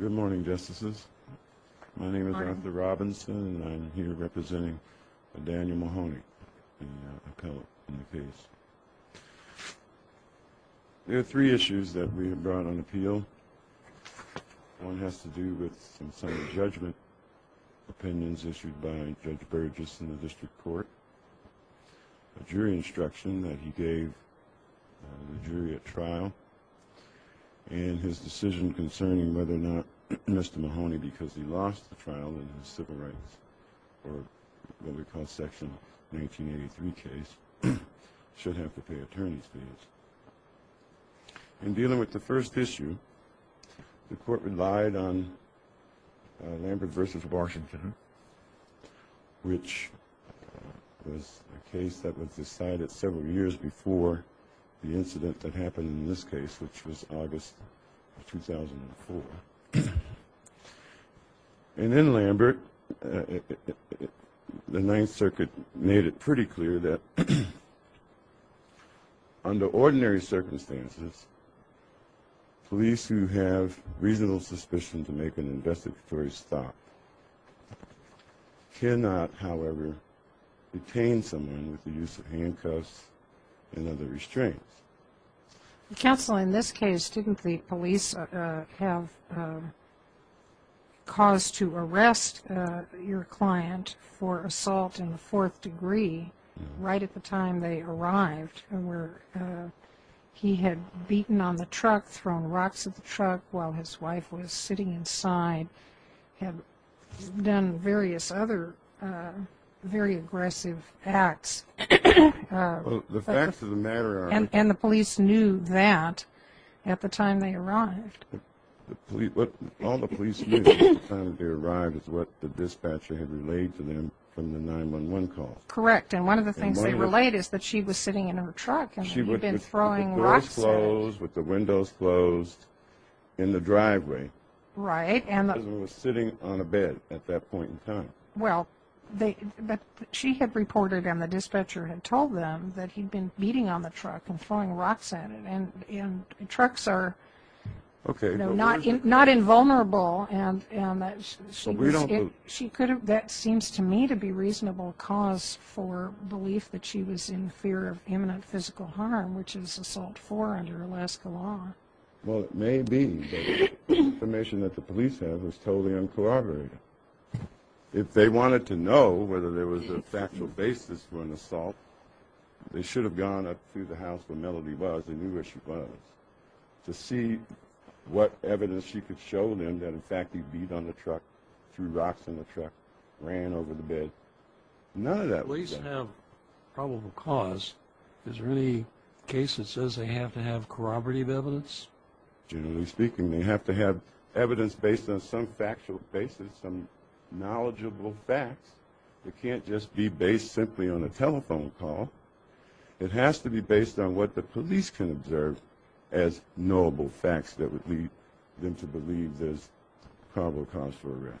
Good morning, Justices. My name is Arthur Robinson, and I'm here representing Daniel Mahoney, the appellate in the case. There are three issues that we have brought on appeal. One has to do with some Senate judgment opinions issued by Judge Burgess in the District Court, the jury instruction that he gave the jury at trial, and his decision concerning whether or not Mr. Mahoney, because he lost the trial in his civil rights, or what we call Section 1983 case, should have to pay attorney's fees. In dealing with the first issue, the Court relied on Lambert v. Washington, which was a case that was decided several years before the incident that happened in this case, which was August 2004. And in Lambert, the Ninth Circuit made it pretty clear that under ordinary circumstances, police who have reasonable suspicion to make an investigatory stop cannot, however, detain someone with the use of handcuffs and other restraints. Counsel, in this case, didn't the police have cause to arrest your client for assault in the fourth degree right at the time they arrived, where he had beaten on the truck, thrown rocks at the truck while his wife was sitting inside, had done various other very aggressive acts? Well, the facts of the matter are... And the police knew that at the time they arrived? All the police knew at the time they arrived is what the dispatcher had relayed to them from the 911 call. Correct. And one of the things they relayed is that she was sitting in her truck and he'd been throwing rocks at her. With the doors closed, with the windows closed, in the driveway. Right. And the husband was sitting on a bed at that point in time. Well, she had reported and the dispatcher had told them that he'd been beating on the truck and throwing rocks at it. And trucks are not invulnerable. And that seems to me to be reasonable cause for belief that she was in fear of imminent physical harm, which is assault four under Alaska law. Well, it may be, but the information that the police have is totally uncorroborated. If they wanted to know whether there was a factual basis for an assault, they should have gone up to the house where Melody was and knew where she was to see what evidence she could show them that, in fact, he beat on the truck, threw rocks on the truck, ran over the bed. None of that was there. Police have probable cause. Is there any case that says they have to have corroborative evidence? Generally speaking, they have to have evidence based on some factual basis, some knowledgeable facts. It can't just be based simply on a telephone call. It has to be based on what the police can observe as knowable facts that would lead them to believe there's probable cause for arrest.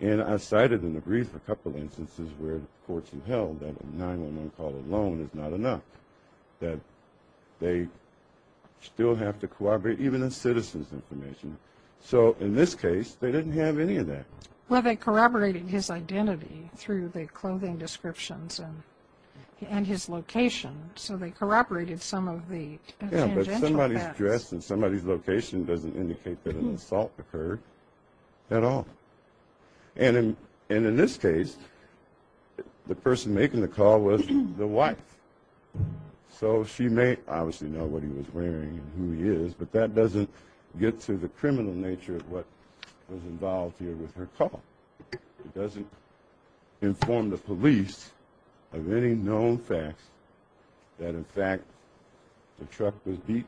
And I cited in the brief a couple instances where the courts have held that a 911 call alone is not enough, that they still have to corroborate even a citizen's information. So in this case, they didn't have any of that. Well, they corroborated his identity through the clothing descriptions and his location, so they corroborated some of the tangential events. Yeah, but somebody's dress and somebody's location doesn't indicate that an assault occurred at all. And in this case, the person making the call was the wife, so she may obviously know what he was wearing and who he is, but that doesn't get to the criminal nature of what was involved here with her call. It doesn't inform the police of any known facts that, in fact, the truck was beat,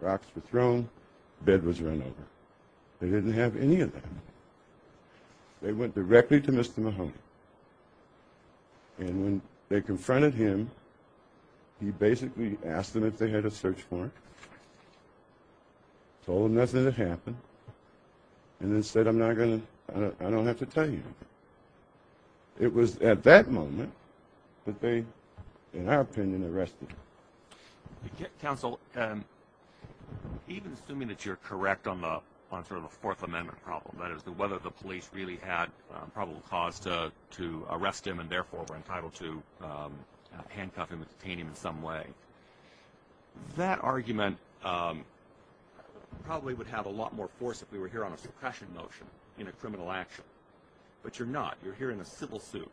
rocks were thrown, bed was run over. They didn't have any of that. They went directly to Mr. Mahoney, and when they confronted him, he basically asked them if they had a search warrant, told them nothing had happened, and then said, I don't have to tell you. It was at that moment that they, in our opinion, arrested him. Counsel, even assuming that you're correct on sort of the Fourth Amendment problem, that is whether the police really had probable cause to arrest him and therefore were entitled to handcuff him and detain him in some way, that argument probably would have a lot more force if we were here on a suppression motion in a criminal action. But you're not. You're here in a civil suit.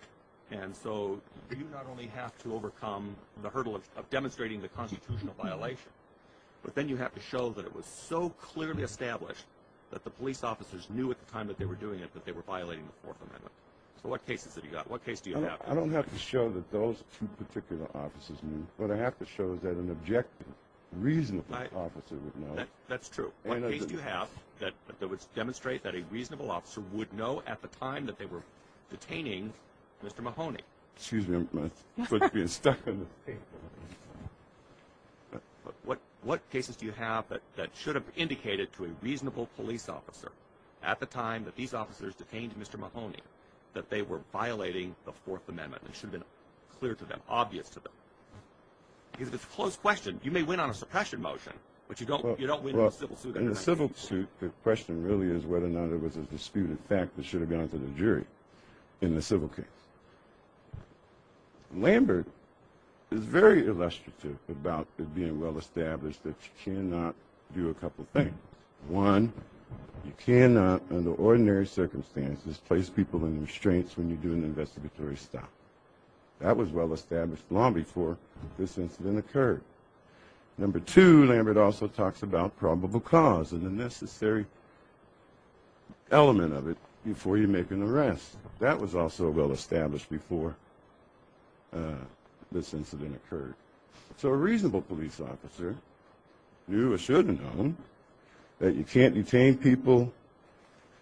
And so you not only have to overcome the hurdle of demonstrating the constitutional violation, but then you have to show that it was so clearly established that the police officers knew at the time that they were doing it that they were violating the Fourth Amendment. So what cases have you got? What case do you have? I don't have to show that those two particular officers knew, but I have to show that an objective, reasonable officer would know. That's true. What case do you have that would demonstrate that a reasonable officer would know at the time that they were detaining Mr. Mahoney? Excuse me, I'm going to get stuck in the paper. What cases do you have that should have indicated to a reasonable police officer at the time that these officers detained Mr. Mahoney that they were violating the Fourth Amendment? It should have been clear to them, obvious to them. Because if it's a closed question, you may win on a suppression motion, but you don't win on a civil suit. In a civil suit, the question really is whether or not it was a disputed fact that should have gone to the jury in the civil case. Lambert is very illustrative about it being well established that you cannot do a couple things. One, you cannot, under ordinary circumstances, place people in restraints when you do an investigatory stop. That was well established long before this incident occurred. Number two, Lambert also talks about probable cause and the necessary element of it before you make an arrest. That was also well established before this incident occurred. So a reasonable police officer knew or should have known that you can't detain people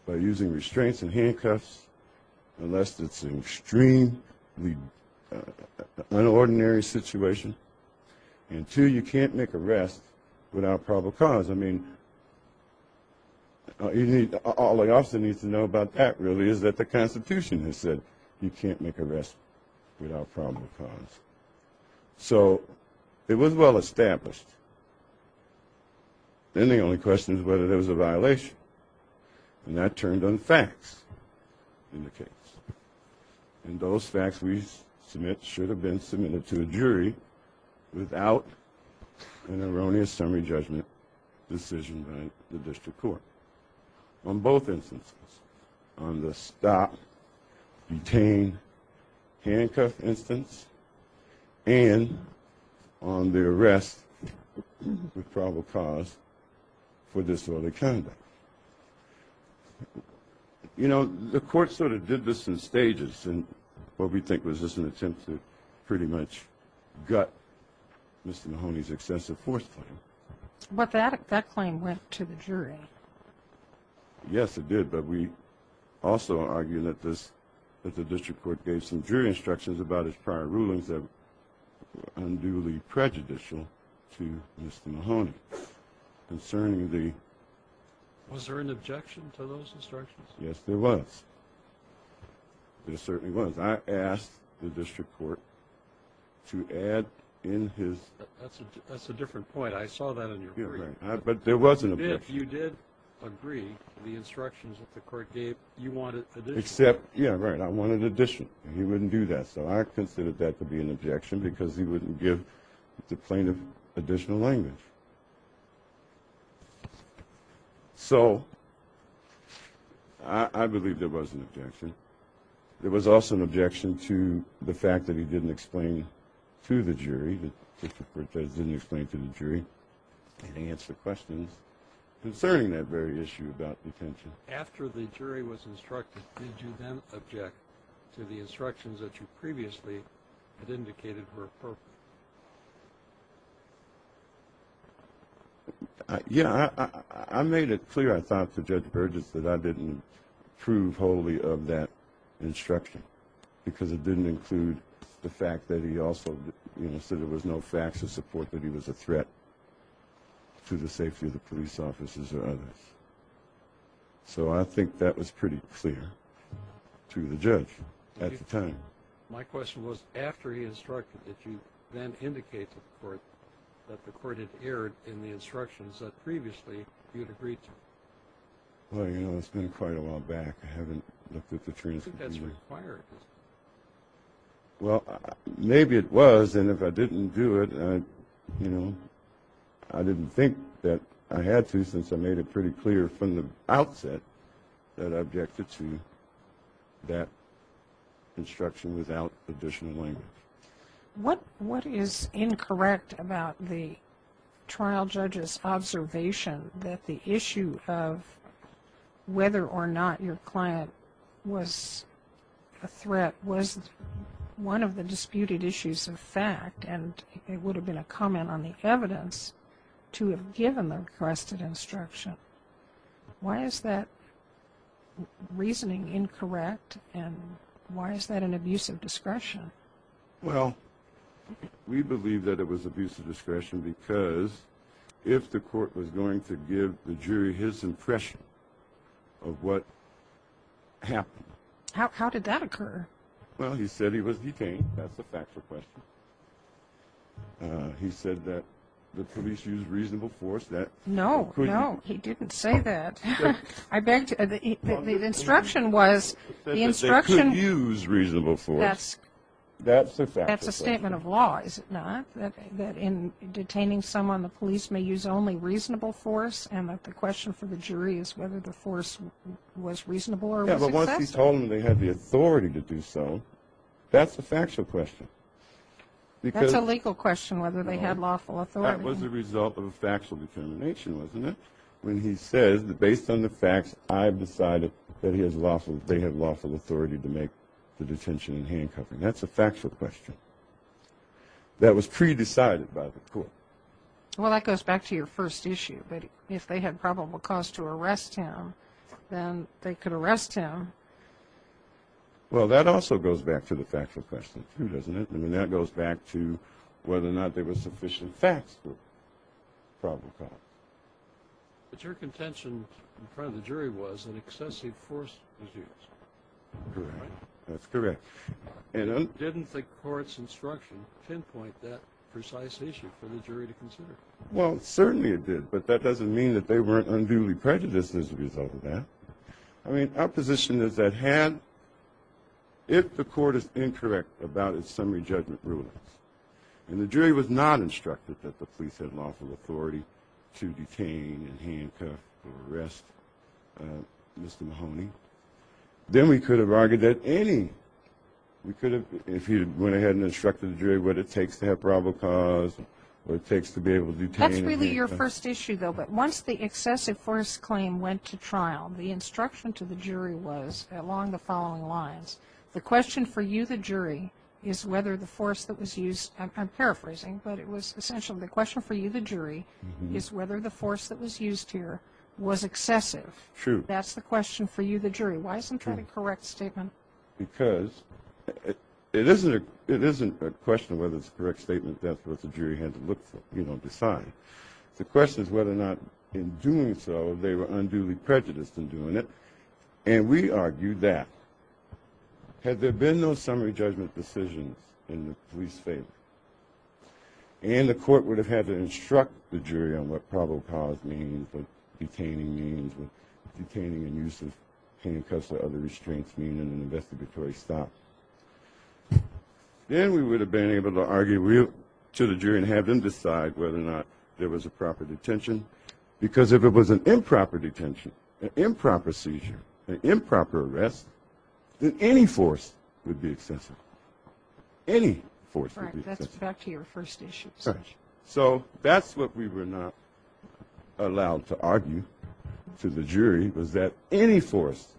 by using restraints and handcuffs unless it's an extremely unordinary situation. And two, you can't make arrests without probable cause. I mean, all the officer needs to know about that really is that the Constitution has said you can't make arrests without probable cause. So it was well established. Then the only question is whether there was a violation. And that turned on facts in the case. And those facts we submit should have been submitted to a jury without an erroneous summary judgment decision by the district court. On both instances, on the stop, detain, handcuff instance, and on the arrest with probable cause for disorderly conduct. You know, the court sort of did this in stages in what we think was just an attempt to pretty much gut Mr. Mahoney's excessive force claim. But that claim went to the jury. Yes, it did. But we also argue that the district court gave some jury instructions about his prior rulings that were unduly prejudicial to Mr. Mahoney. Was there an objection to those instructions? Yes, there was. There certainly was. I asked the district court to add in his… That's a different point. I saw that in your brief. But there was an objection. If you did agree to the instructions that the court gave, you wanted addition. Except, yeah, right, I wanted addition. He wouldn't do that. So I considered that to be an objection because he wouldn't give the plaintiff additional language. So I believe there was an objection. There was also an objection to the fact that he didn't explain to the jury, that the district court judge didn't explain to the jury, and answer questions concerning that very issue about detention. After the jury was instructed, did you then object to the instructions that you previously had indicated were appropriate? Yeah, I made it clear, I thought, to Judge Burgess that I didn't approve wholly of that instruction because it didn't include the fact that he also said there was no facts to support that he was a threat to the safety of the police officers or others. So I think that was pretty clear to the judge at the time. My question was, after he instructed, did you then indicate to the court that the court had erred in the instructions that previously you had agreed to? Well, you know, it's been quite a while back. I haven't looked at the transcript. I think that's required. Well, maybe it was, and if I didn't do it, you know, I didn't think that I had to since I made it pretty clear from the outset that I objected to that instruction without additional language. What is incorrect about the trial judge's observation that the issue of whether or not your client was a threat was one of the disputed issues of fact and it would have been a comment on the evidence to have given the requested instruction? Why is that reasoning incorrect and why is that an abuse of discretion? Well, we believe that it was abuse of discretion because if the court was going to give the jury his impression of what happened. How did that occur? Well, he said he was detained. That's a factual question. He said that the police used reasonable force. No, no, he didn't say that. I beg to, the instruction was, the instruction. That they could use reasonable force. That's a statement of law, is it not? That in detaining someone, the police may use only reasonable force and that the question for the jury is whether the force was reasonable or was excessive. Well, once he told them they had the authority to do so, that's a factual question. That's a legal question, whether they had lawful authority. That was a result of a factual determination, wasn't it? When he says that based on the facts, I've decided that they have lawful authority to make the detention and hand covering. That's a factual question. That was pre-decided by the court. Well, that goes back to your first issue. But if they had probable cause to arrest him, then they could arrest him. Well, that also goes back to the factual question, too, doesn't it? I mean, that goes back to whether or not there was sufficient facts for probable cause. But your contention in front of the jury was an excessive force was used. That's correct. Didn't the court's instruction pinpoint that precise issue for the jury to consider? Well, certainly it did, but that doesn't mean that they weren't unduly prejudiced as a result of that. I mean, our position is that had, if the court is incorrect about its summary judgment rulings and the jury was not instructed that the police had lawful authority to detain and hand cover or arrest Mr. Mahoney, then we could have argued that any, we could have, if he went ahead and instructed the jury what it takes to have probable cause and what it takes to be able to detain him. That's really your first issue, though, but once the excessive force claim went to trial, the instruction to the jury was, along the following lines, the question for you, the jury, is whether the force that was used, I'm paraphrasing, but it was essentially the question for you, the jury, is whether the force that was used here was excessive. True. That's the question for you, the jury. Why isn't that a correct statement? Because it isn't a question of whether it's a correct statement. That's what the jury had to look for, you know, decide. The question is whether or not in doing so they were unduly prejudiced in doing it, and we argued that. Had there been no summary judgment decisions in the police favor and the court would have had to instruct the jury on what probable cause means, what detaining means, what detaining and use of handcuffs or other restraints mean in an investigatory stop, then we would have been able to argue to the jury and have them decide whether or not there was a proper detention. Because if it was an improper detention, an improper seizure, an improper arrest, then any force would be excessive. Any force would be excessive. That's back to your first issue. So that's what we were not allowed to argue to the jury, was that any force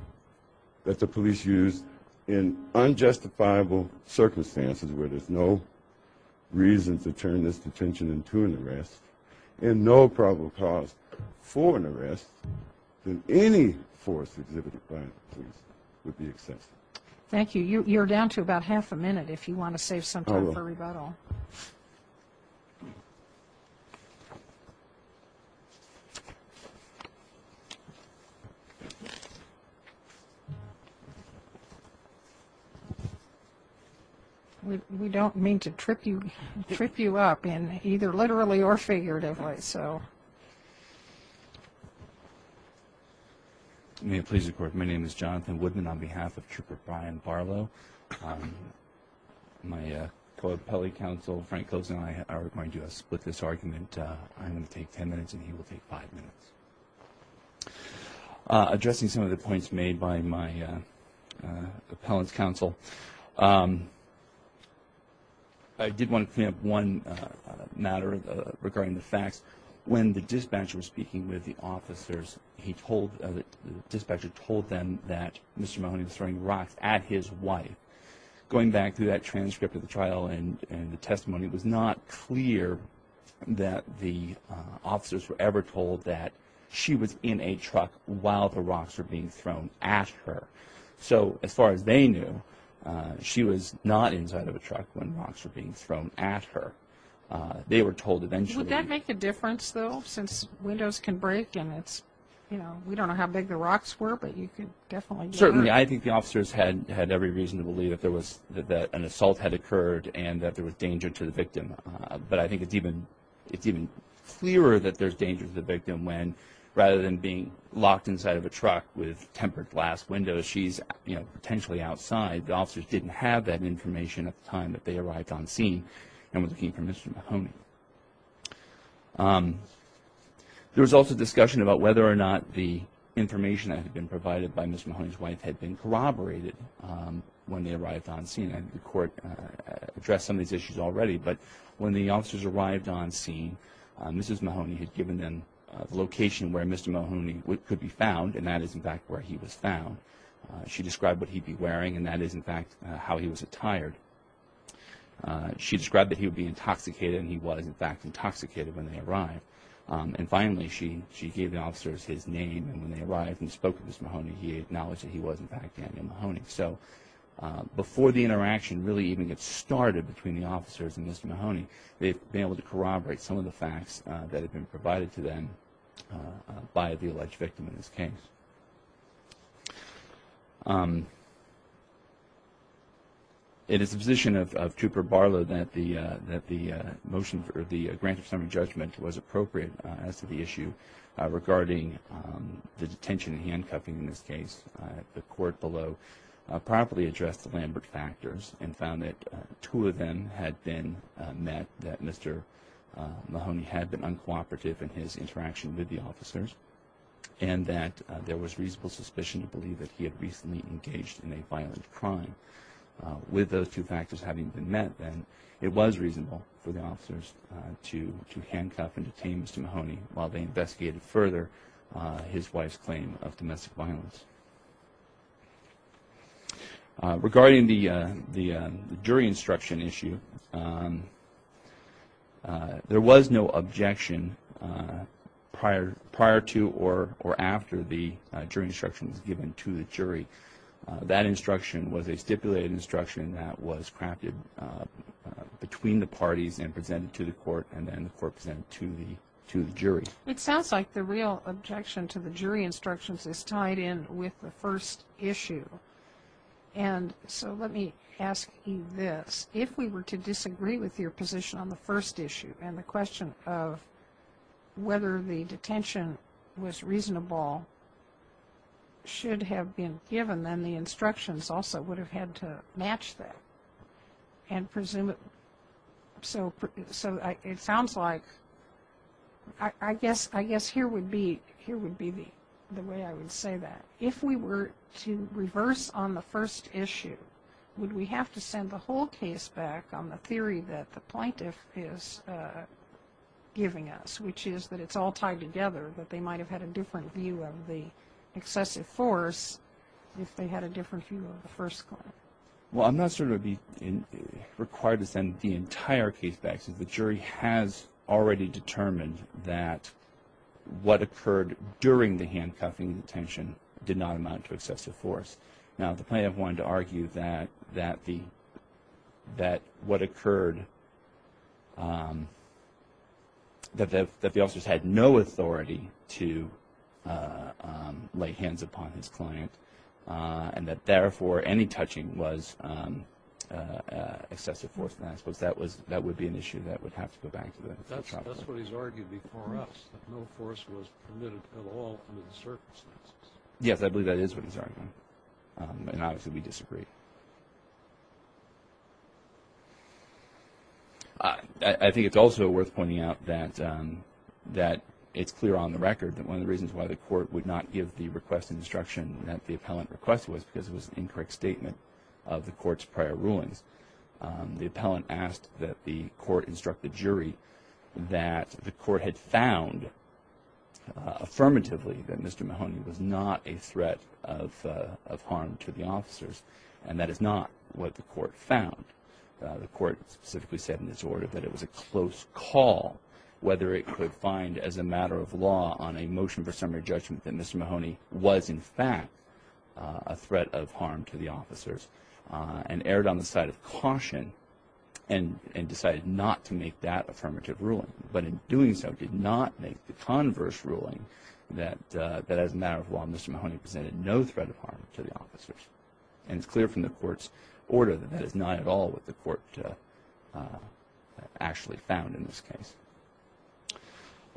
that the police used in unjustifiable circumstances where there's no reason to turn this detention into an arrest and no probable cause for an arrest, then any force exhibited by the police would be excessive. Thank you. You're down to about half a minute if you want to save some time for rebuttal. I will. We don't mean to trip you up either literally or figuratively. May it please the Court. My name is Jonathan Woodman on behalf of Trooper Brian Barlow. My co-appellate counsel, Frank Kozen, and I are going to split this argument. I'm going to take ten minutes and he will take five minutes. Addressing some of the points made by my appellant's counsel, I did want to point out one matter regarding the facts. When the dispatcher was speaking with the officers, the dispatcher told them that Mr. Mahoney was throwing rocks at his wife. Going back through that transcript of the trial and the testimony, it was not clear that the officers were ever told that she was in a truck while the rocks were being thrown at her. So as far as they knew, she was not inside of a truck when rocks were being thrown at her. They were told eventually. Would that make a difference, though, since windows can break and we don't know how big the rocks were, but you could definitely get hurt? Certainly. I think the officers had every reason to believe that an assault had occurred and that there was danger to the victim. But I think it's even clearer that there's danger to the victim when rather than being locked inside of a truck with tempered glass windows, because she's potentially outside, the officers didn't have that information at the time that they arrived on scene and were looking for Mr. Mahoney. There was also discussion about whether or not the information that had been provided by Mr. Mahoney's wife had been corroborated when they arrived on scene. The court addressed some of these issues already, but when the officers arrived on scene, Mrs. Mahoney had given them the location where Mr. Mahoney could be found, and that is, in fact, where he was found. She described what he'd be wearing, and that is, in fact, how he was attired. She described that he would be intoxicated, and he was, in fact, intoxicated when they arrived. And finally, she gave the officers his name, and when they arrived and spoke to Mr. Mahoney, he acknowledged that he was, in fact, Daniel Mahoney. So before the interaction really even gets started between the officers and Mr. Mahoney, they've been able to corroborate some of the facts that had been provided to them by the alleged victim in this case. It is the position of Trooper Barlow that the motion for the grant of summary judgment was appropriate as to the issue regarding the detention and handcuffing in this case. The court below properly addressed the Lambert factors and found that two of them had been met, that Mr. Mahoney had been uncooperative in his interaction with the officers, and that there was reasonable suspicion to believe that he had recently engaged in a violent crime. With those two factors having been met, then, it was reasonable for the officers to handcuff and detain Mr. Mahoney while they investigated further his wife's claim of domestic violence. Regarding the jury instruction issue, there was no objection prior to or after the jury instruction was given to the jury. That instruction was a stipulated instruction that was crafted between the parties and presented to the court, and then the court presented it to the jury. It sounds like the real objection to the jury instructions is tied in with the first issue. And so let me ask you this. If we were to disagree with your position on the first issue and the question of whether the detention was reasonable should have been given, then the instructions also would have had to match that. So it sounds like, I guess here would be the way I would say that. If we were to reverse on the first issue, would we have to send the whole case back on the theory that the plaintiff is giving us, which is that it's all tied together, that they might have had a different view of the excessive force if they had a different view of the first claim? Well, I'm not sure it would be required to send the entire case back since the jury has already determined that what occurred during the handcuffing detention did not amount to excessive force. Now, the plaintiff wanted to argue that what occurred, that the officers had no authority to lay hands upon his client and that, therefore, any touching was excessive force. And I suppose that would be an issue that would have to go back to the trial. That's what he's argued before us, that no force was permitted at all under the circumstances. Yes, I believe that is what he's arguing. And obviously we disagree. I think it's also worth pointing out that it's clear on the record that one of the reasons why the court would not give the request and instruction that the appellant requested was because it was an incorrect statement of the court's prior rulings. The appellant asked that the court instruct the jury that the court had found affirmatively that Mr. Mahoney was not a threat of harm to the officers, and that is not what the court found. The court specifically said in its order that it was a close call whether it could find as a matter of law on a motion for summary judgment that Mr. Mahoney was in fact a threat of harm to the officers and erred on the side of caution and decided not to make that affirmative ruling, but in doing so did not make the converse ruling that as a matter of law Mr. Mahoney presented no threat of harm to the officers. And it's clear from the court's order that that is not at all what the court actually found in this case.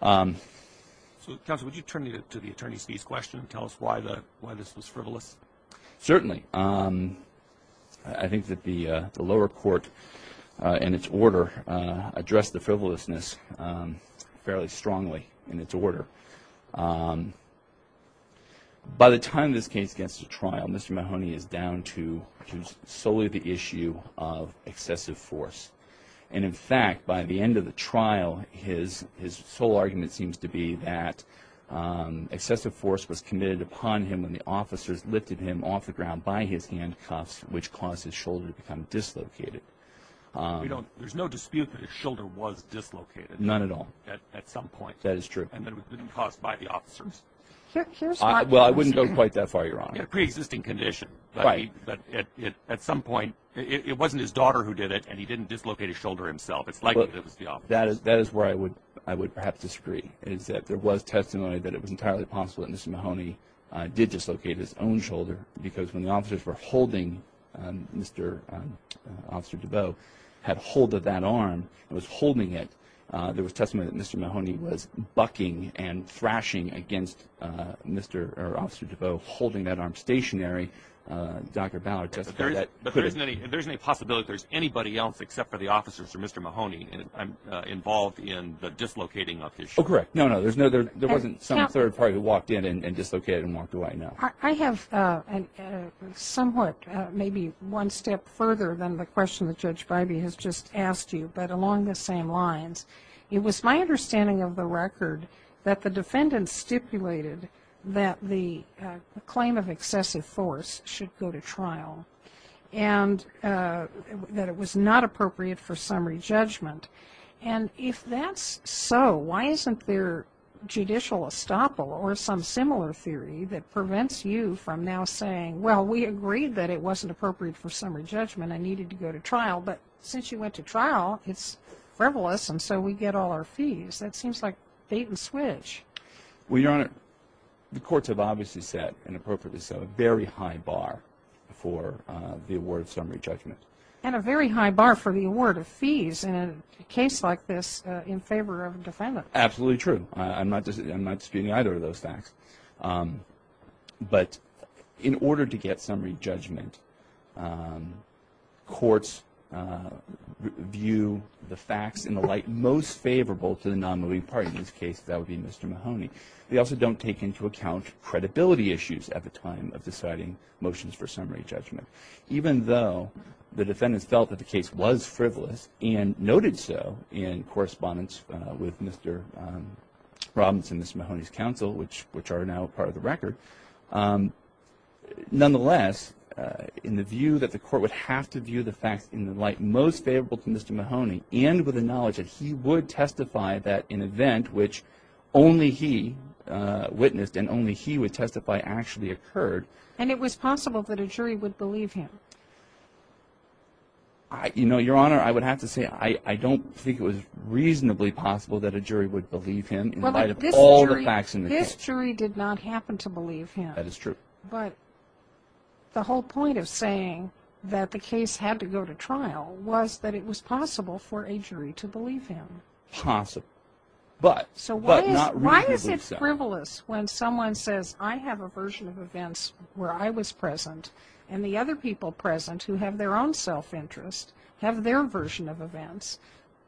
So, counsel, would you turn to the attorney's fees question and tell us why this was frivolous? Certainly. I think that the lower court in its order addressed the frivolousness fairly strongly in its order. By the time this case gets to trial, Mr. Mahoney is down to solely the issue of excessive force. And in fact, by the end of the trial, his sole argument seems to be that excessive force was committed upon him when the officers lifted him off the ground by his handcuffs, which caused his shoulder to become dislocated. There's no dispute that his shoulder was dislocated. None at all. At some point. That is true. And that it was caused by the officers. Well, I wouldn't go quite that far, Your Honor. In a preexisting condition. But at some point, it wasn't his daughter who did it and he didn't dislocate his shoulder himself. It's likely that it was the officers. That is where I would perhaps disagree, is that there was testimony that it was entirely possible that Mr. Mahoney did dislocate his own shoulder because when the officers were holding Mr. DeBeau, had hold of that arm and was holding it, there was testimony that Mr. Mahoney was bucking and thrashing against Mr. or Officer DeBeau holding that arm stationary. Dr. Ballard testified that. But there isn't any possibility that there's anybody else except for the officers or Mr. Mahoney involved in the dislocating of his shoulder. Oh, correct. No, no, there wasn't some third party who walked in and dislocated and walked away. No. I have somewhat, maybe one step further than the question that Judge Bybee has just asked you, but along the same lines, it was my understanding of the record that the defendant stipulated that the claim of excessive force should go to trial and that it was not appropriate for summary judgment. And if that's so, why isn't there judicial estoppel or some similar theory that prevents you from now saying, well, we agreed that it wasn't appropriate for summary judgment and needed to go to trial, but since you went to trial, it's frivolous, and so we get all our fees. That seems like bait and switch. Well, Your Honor, the courts have obviously set, and appropriately so, a very high bar for the award of summary judgment. And a very high bar for the award of fees in a case like this in favor of a defendant. Absolutely true. I'm not disputing either of those facts. But in order to get summary judgment, courts view the facts in the light most favorable to the non-moving party. In this case, that would be Mr. Mahoney. They also don't take into account credibility issues at the time of deciding motions for summary judgment. Even though the defendants felt that the case was frivolous and noted so in correspondence with Mr. Robbins and Mr. Mahoney's counsel, which are now part of the record, nonetheless, in the view that the court would have to view the facts in the light most favorable to Mr. Mahoney, and with the knowledge that he would testify that an event which only he witnessed and only he would testify actually occurred. And it was possible that a jury would believe him? You know, Your Honor, I would have to say I don't think it was reasonably possible that a jury would believe him. In light of all the facts in the case. This jury did not happen to believe him. That is true. But the whole point of saying that the case had to go to trial was that it was possible for a jury to believe him. Possible. But not reasonably so. So why is it frivolous when someone says I have a version of events where I was present and the other people present who have their own self-interest have their version of events?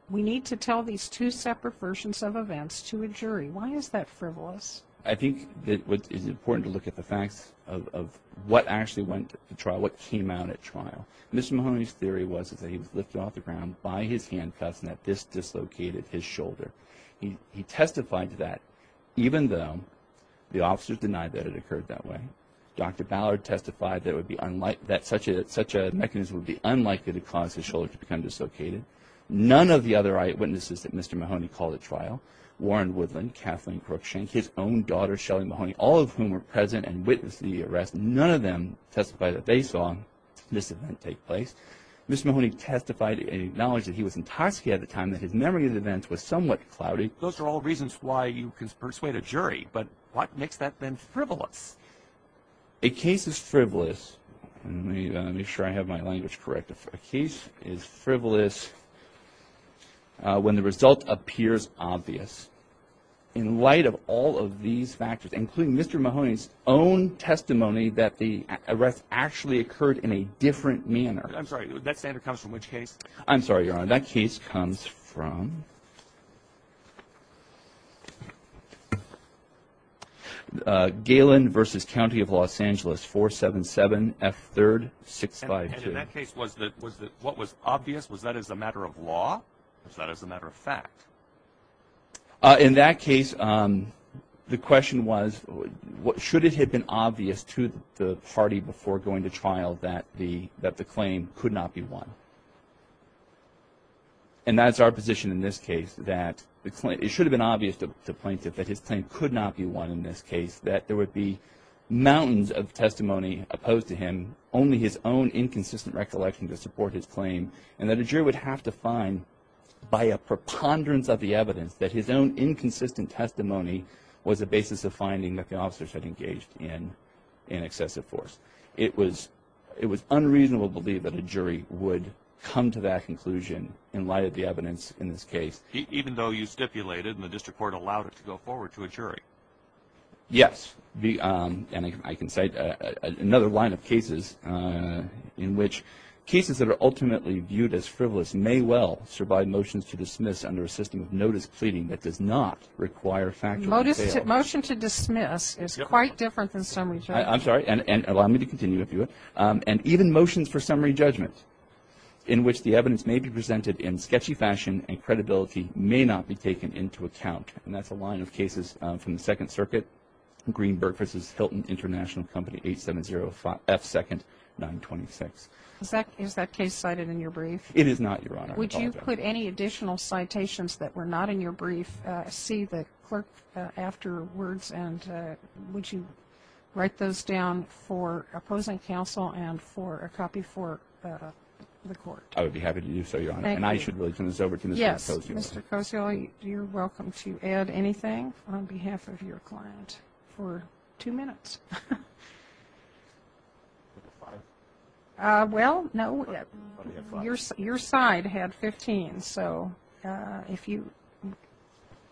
We need to tell these two separate versions of events to a jury. Why is that frivolous? I think it is important to look at the facts of what actually went to trial, what came out at trial. Mr. Mahoney's theory was that he was lifted off the ground by his handcuffs and that this dislocated his shoulder. He testified to that even though the officers denied that it occurred that way. Dr. Ballard testified that such a mechanism would be unlikely to cause his shoulder to become dislocated. None of the other eyewitnesses that Mr. Mahoney called at trial, Warren Woodland, Kathleen Crookshank, his own daughter Shelly Mahoney, all of whom were present and witnessed the arrest, none of them testified that they saw this event take place. Mr. Mahoney testified and acknowledged that he was intoxicated at the time that his memory of the events was somewhat cloudy. Those are all reasons why you could persuade a jury. But what makes that then frivolous? A case is frivolous. Let me make sure I have my language correct. A case is frivolous when the result appears obvious. In light of all of these factors, including Mr. Mahoney's own testimony that the arrest actually occurred in a different manner. I'm sorry. That standard comes from which case? I'm sorry, Your Honor. That case comes from Galen v. County of Los Angeles, 477F3652. And in that case, what was obvious? Was that as a matter of law? Was that as a matter of fact? In that case, the question was should it have been obvious to the party before going to trial that the claim could not be won? And that's our position in this case, that it should have been obvious to the plaintiff that his claim could not be won in this case, that there would be mountains of testimony opposed to him, only his own inconsistent recollection to support his claim, and that a jury would have to find by a preponderance of the evidence that his own inconsistent testimony was a basis of finding that the officers had engaged in excessive force. It was unreasonable to believe that a jury would come to that conclusion in light of the evidence in this case. Even though you stipulated and the district court allowed it to go forward to a jury? Yes. And I can cite another line of cases in which cases that are ultimately viewed as frivolous may well survive motions to dismiss under a system of notice pleading that does not require factual details. Motion to dismiss is quite different than summary judgment. I'm sorry. And allow me to continue if you would. And even motions for summary judgment in which the evidence may be presented in sketchy fashion and credibility may not be taken into account. And that's a line of cases from the Second Circuit, Greenberg v. Hilton International Company, 870 F. 2nd, 926. Is that case cited in your brief? It is not, Your Honor. Would you put any additional citations that were not in your brief, see the clerk afterwards, and would you write those down for opposing counsel and for a copy for the court? I would be happy to do so, Your Honor. Thank you. And I should really turn this over to Ms. Kosiol. Yes, Mr. Kosiol, you're welcome to add anything on behalf of your client for two minutes. Well, no, your side had 15, so if you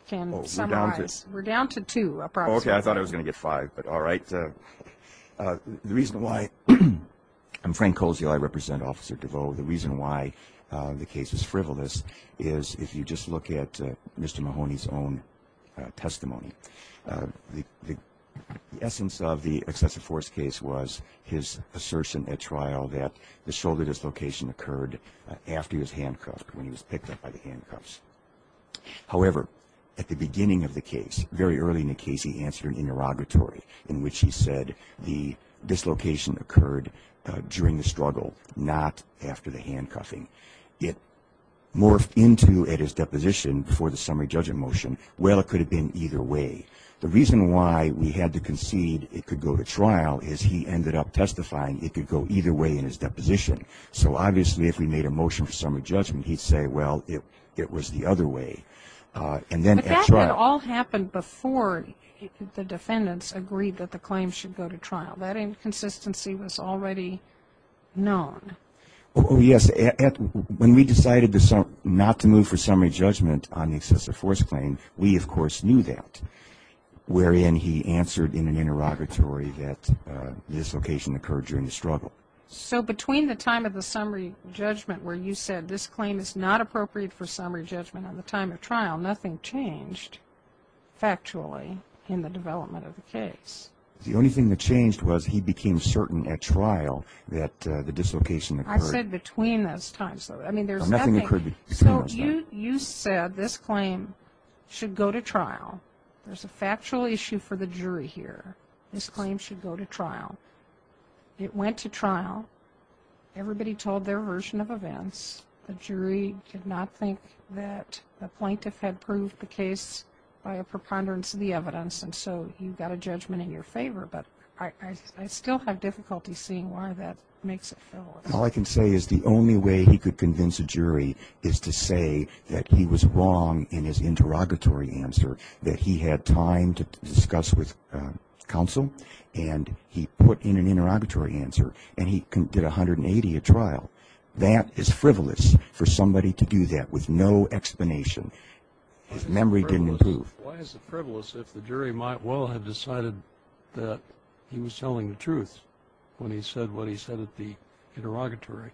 can summarize. We're down to two approximately. Okay, I thought I was going to get five, but all right. The reason why I'm Frank Kosiol, I represent Officer DeVoe. The reason why the case is frivolous is if you just look at Mr. Mahoney's own testimony, the essence of the excessive force case was his assertion at trial that the shoulder dislocation occurred after he was handcuffed, when he was picked up by the handcuffs. However, at the beginning of the case, very early in the case, he answered an interrogatory in which he said the dislocation occurred during the struggle, not after the handcuffing. It morphed into at his deposition before the summary judgment motion, well, it could have been either way. The reason why we had to concede it could go to trial is he ended up testifying it could go either way in his deposition. So obviously if we made a motion for summary judgment, he'd say, well, it was the other way. But that had all happened before the defendants agreed that the claim should go to trial. That inconsistency was already known. Oh, yes. When we decided not to move for summary judgment on the excessive force claim, we, of course, knew that, wherein he answered in an interrogatory that the dislocation occurred during the struggle. So between the time of the summary judgment where you said this claim is not appropriate for summary judgment on the time of trial, nothing changed factually in the development of the case. The only thing that changed was he became certain at trial that the dislocation occurred. I said between those times. Nothing occurred between those times. So you said this claim should go to trial. There's a factual issue for the jury here. This claim should go to trial. It went to trial. Everybody told their version of events. The jury did not think that the plaintiff had proved the case by a preponderance of the evidence, and so you've got a judgment in your favor, but I still have difficulty seeing why that makes it frivolous. All I can say is the only way he could convince a jury is to say that he was wrong in his interrogatory answer, that he had time to discuss with counsel, and he put in an interrogatory answer, and he did 180 at trial. That is frivolous for somebody to do that with no explanation. His memory didn't improve. Why is it frivolous if the jury might well have decided that he was telling the truth when he said what he said at the interrogatory?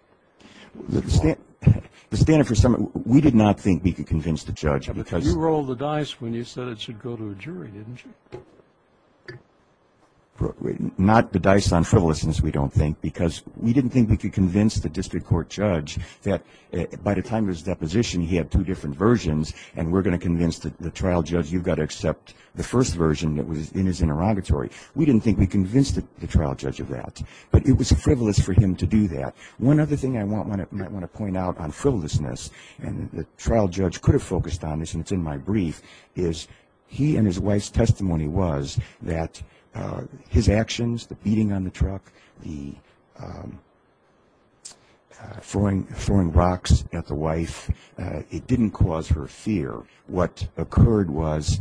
We did not think we could convince the judge. You rolled the dice when you said it should go to a jury, didn't you? Not the dice on frivolousness, we don't think, because we didn't think we could convince the district court judge that by the time of his deposition, he had two different versions, and we're going to convince the trial judge, you've got to accept the first version that was in his interrogatory. We didn't think we convinced the trial judge of that, but it was frivolous for him to do that. One other thing I might want to point out on frivolousness, and the trial judge could have focused on this and it's in my brief, is he and his wife's testimony was that his actions, the beating on the truck, the throwing rocks at the wife, it didn't cause her fear. What occurred was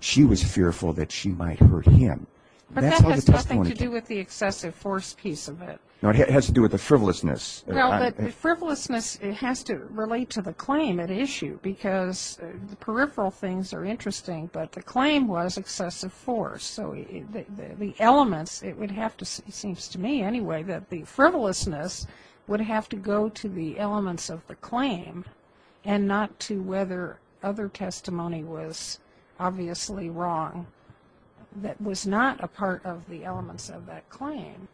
she was fearful that she might hurt him. But that has nothing to do with the excessive force piece of it. No, it has to do with the frivolousness. Well, the frivolousness has to relate to the claim at issue, because the peripheral things are interesting, but the claim was excessive force. So the elements, it would have to, it seems to me anyway, that the frivolousness would have to go to the elements of the claim and not to whether other testimony was obviously wrong that was not a part of the elements of that claim.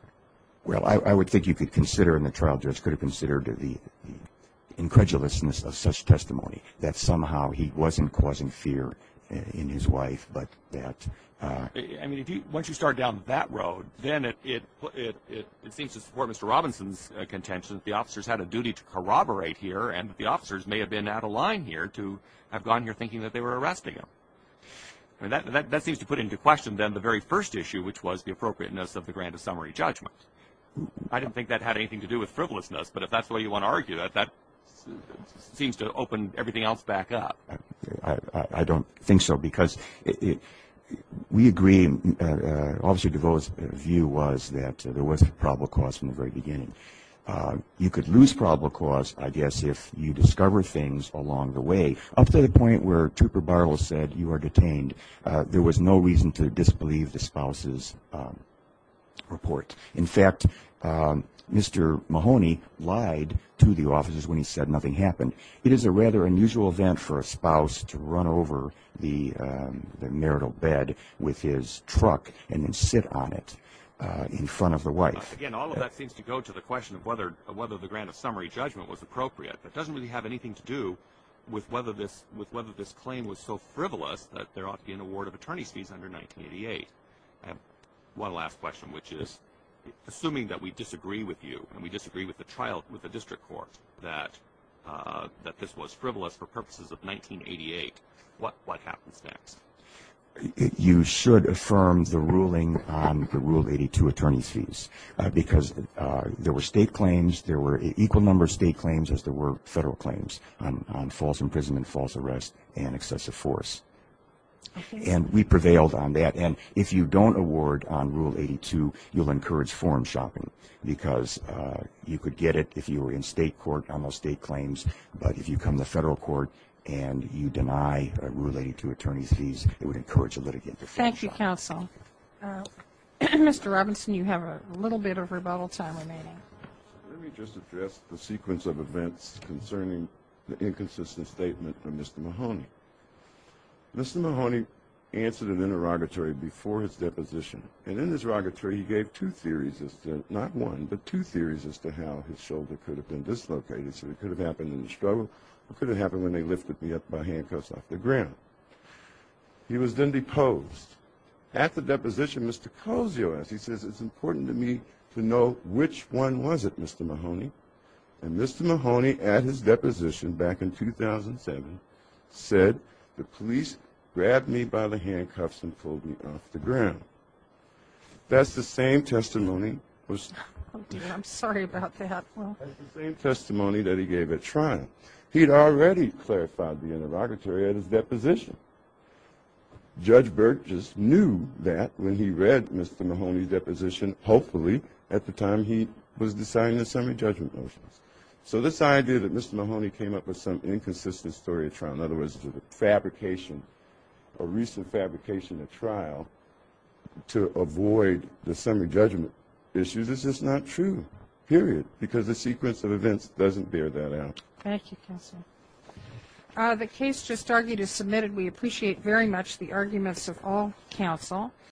Well, I would think you could consider, and the trial judge could have considered, the incredulousness of such testimony, that somehow he wasn't causing fear in his wife, but that... I mean, once you start down that road, then it seems to support Mr. Robinson's contention that the officers had a duty to corroborate here and that the officers may have been out of line here to have gone here thinking that they were arresting him. That seems to put into question then the very first issue, which was the appropriateness of the grant of summary judgment. I don't think that had anything to do with frivolousness, but if that's the way you want to argue it, that seems to open everything else back up. I don't think so, because we agree, Officer DeVos' view was that there was probable cause from the very beginning. You could lose probable cause, I guess, if you discover things along the way. Up to the point where Trooper Barlow said you were detained, there was no reason to disbelieve the spouse's report. In fact, Mr. Mahoney lied to the officers when he said nothing happened. It is a rather unusual event for a spouse to run over the marital bed with his truck and then sit on it in front of the wife. Again, all of that seems to go to the question of whether the grant of summary judgment was appropriate. That doesn't really have anything to do with whether this claim was so frivolous that there ought to be an award of attorney's fees under 1988. One last question, which is, assuming that we disagree with you and we disagree with the district court that this was frivolous for purposes of 1988, what happens next? You should affirm the ruling on the Rule 82 attorney's fees, because there were state claims, there were equal number of state claims as there were federal claims on false imprisonment, false arrest, and excessive force. And we prevailed on that. And if you don't award on Rule 82, you'll encourage form shopping, because you could get it if you were in state court on those state claims, but if you come to federal court and you deny a Rule 82 attorney's fees, it would encourage a litigant to form shopping. Thank you, counsel. Mr. Robinson, you have a little bit of rebuttal time remaining. Let me just address the sequence of events concerning the inconsistent statement from Mr. Mahoney. Mr. Mahoney answered an interrogatory before his deposition, and in his interrogatory he gave two theories as to, not one, but two theories as to how his shoulder could have been dislocated, so it could have happened in the struggle or could have happened when they lifted me up by handcuffs off the ground. He was then deposed. At the deposition, Mr. Kozios, he says, it's important to me to know which one was it, Mr. Mahoney, and Mr. Mahoney at his deposition back in 2007 said, the police grabbed me by the handcuffs and pulled me off the ground. That's the same testimony that he gave at trial. He had already clarified the interrogatory at his deposition. Judge Berg just knew that when he read Mr. Mahoney's deposition, hopefully at the time he was deciding the summary judgment motions. So this idea that Mr. Mahoney came up with some inconsistent story at trial, in other words a fabrication, a recent fabrication at trial, to avoid the summary judgment issues is just not true, period, because the sequence of events doesn't bear that out. Thank you, counsel. The case just argued is submitted. We appreciate very much the arguments of all counsel.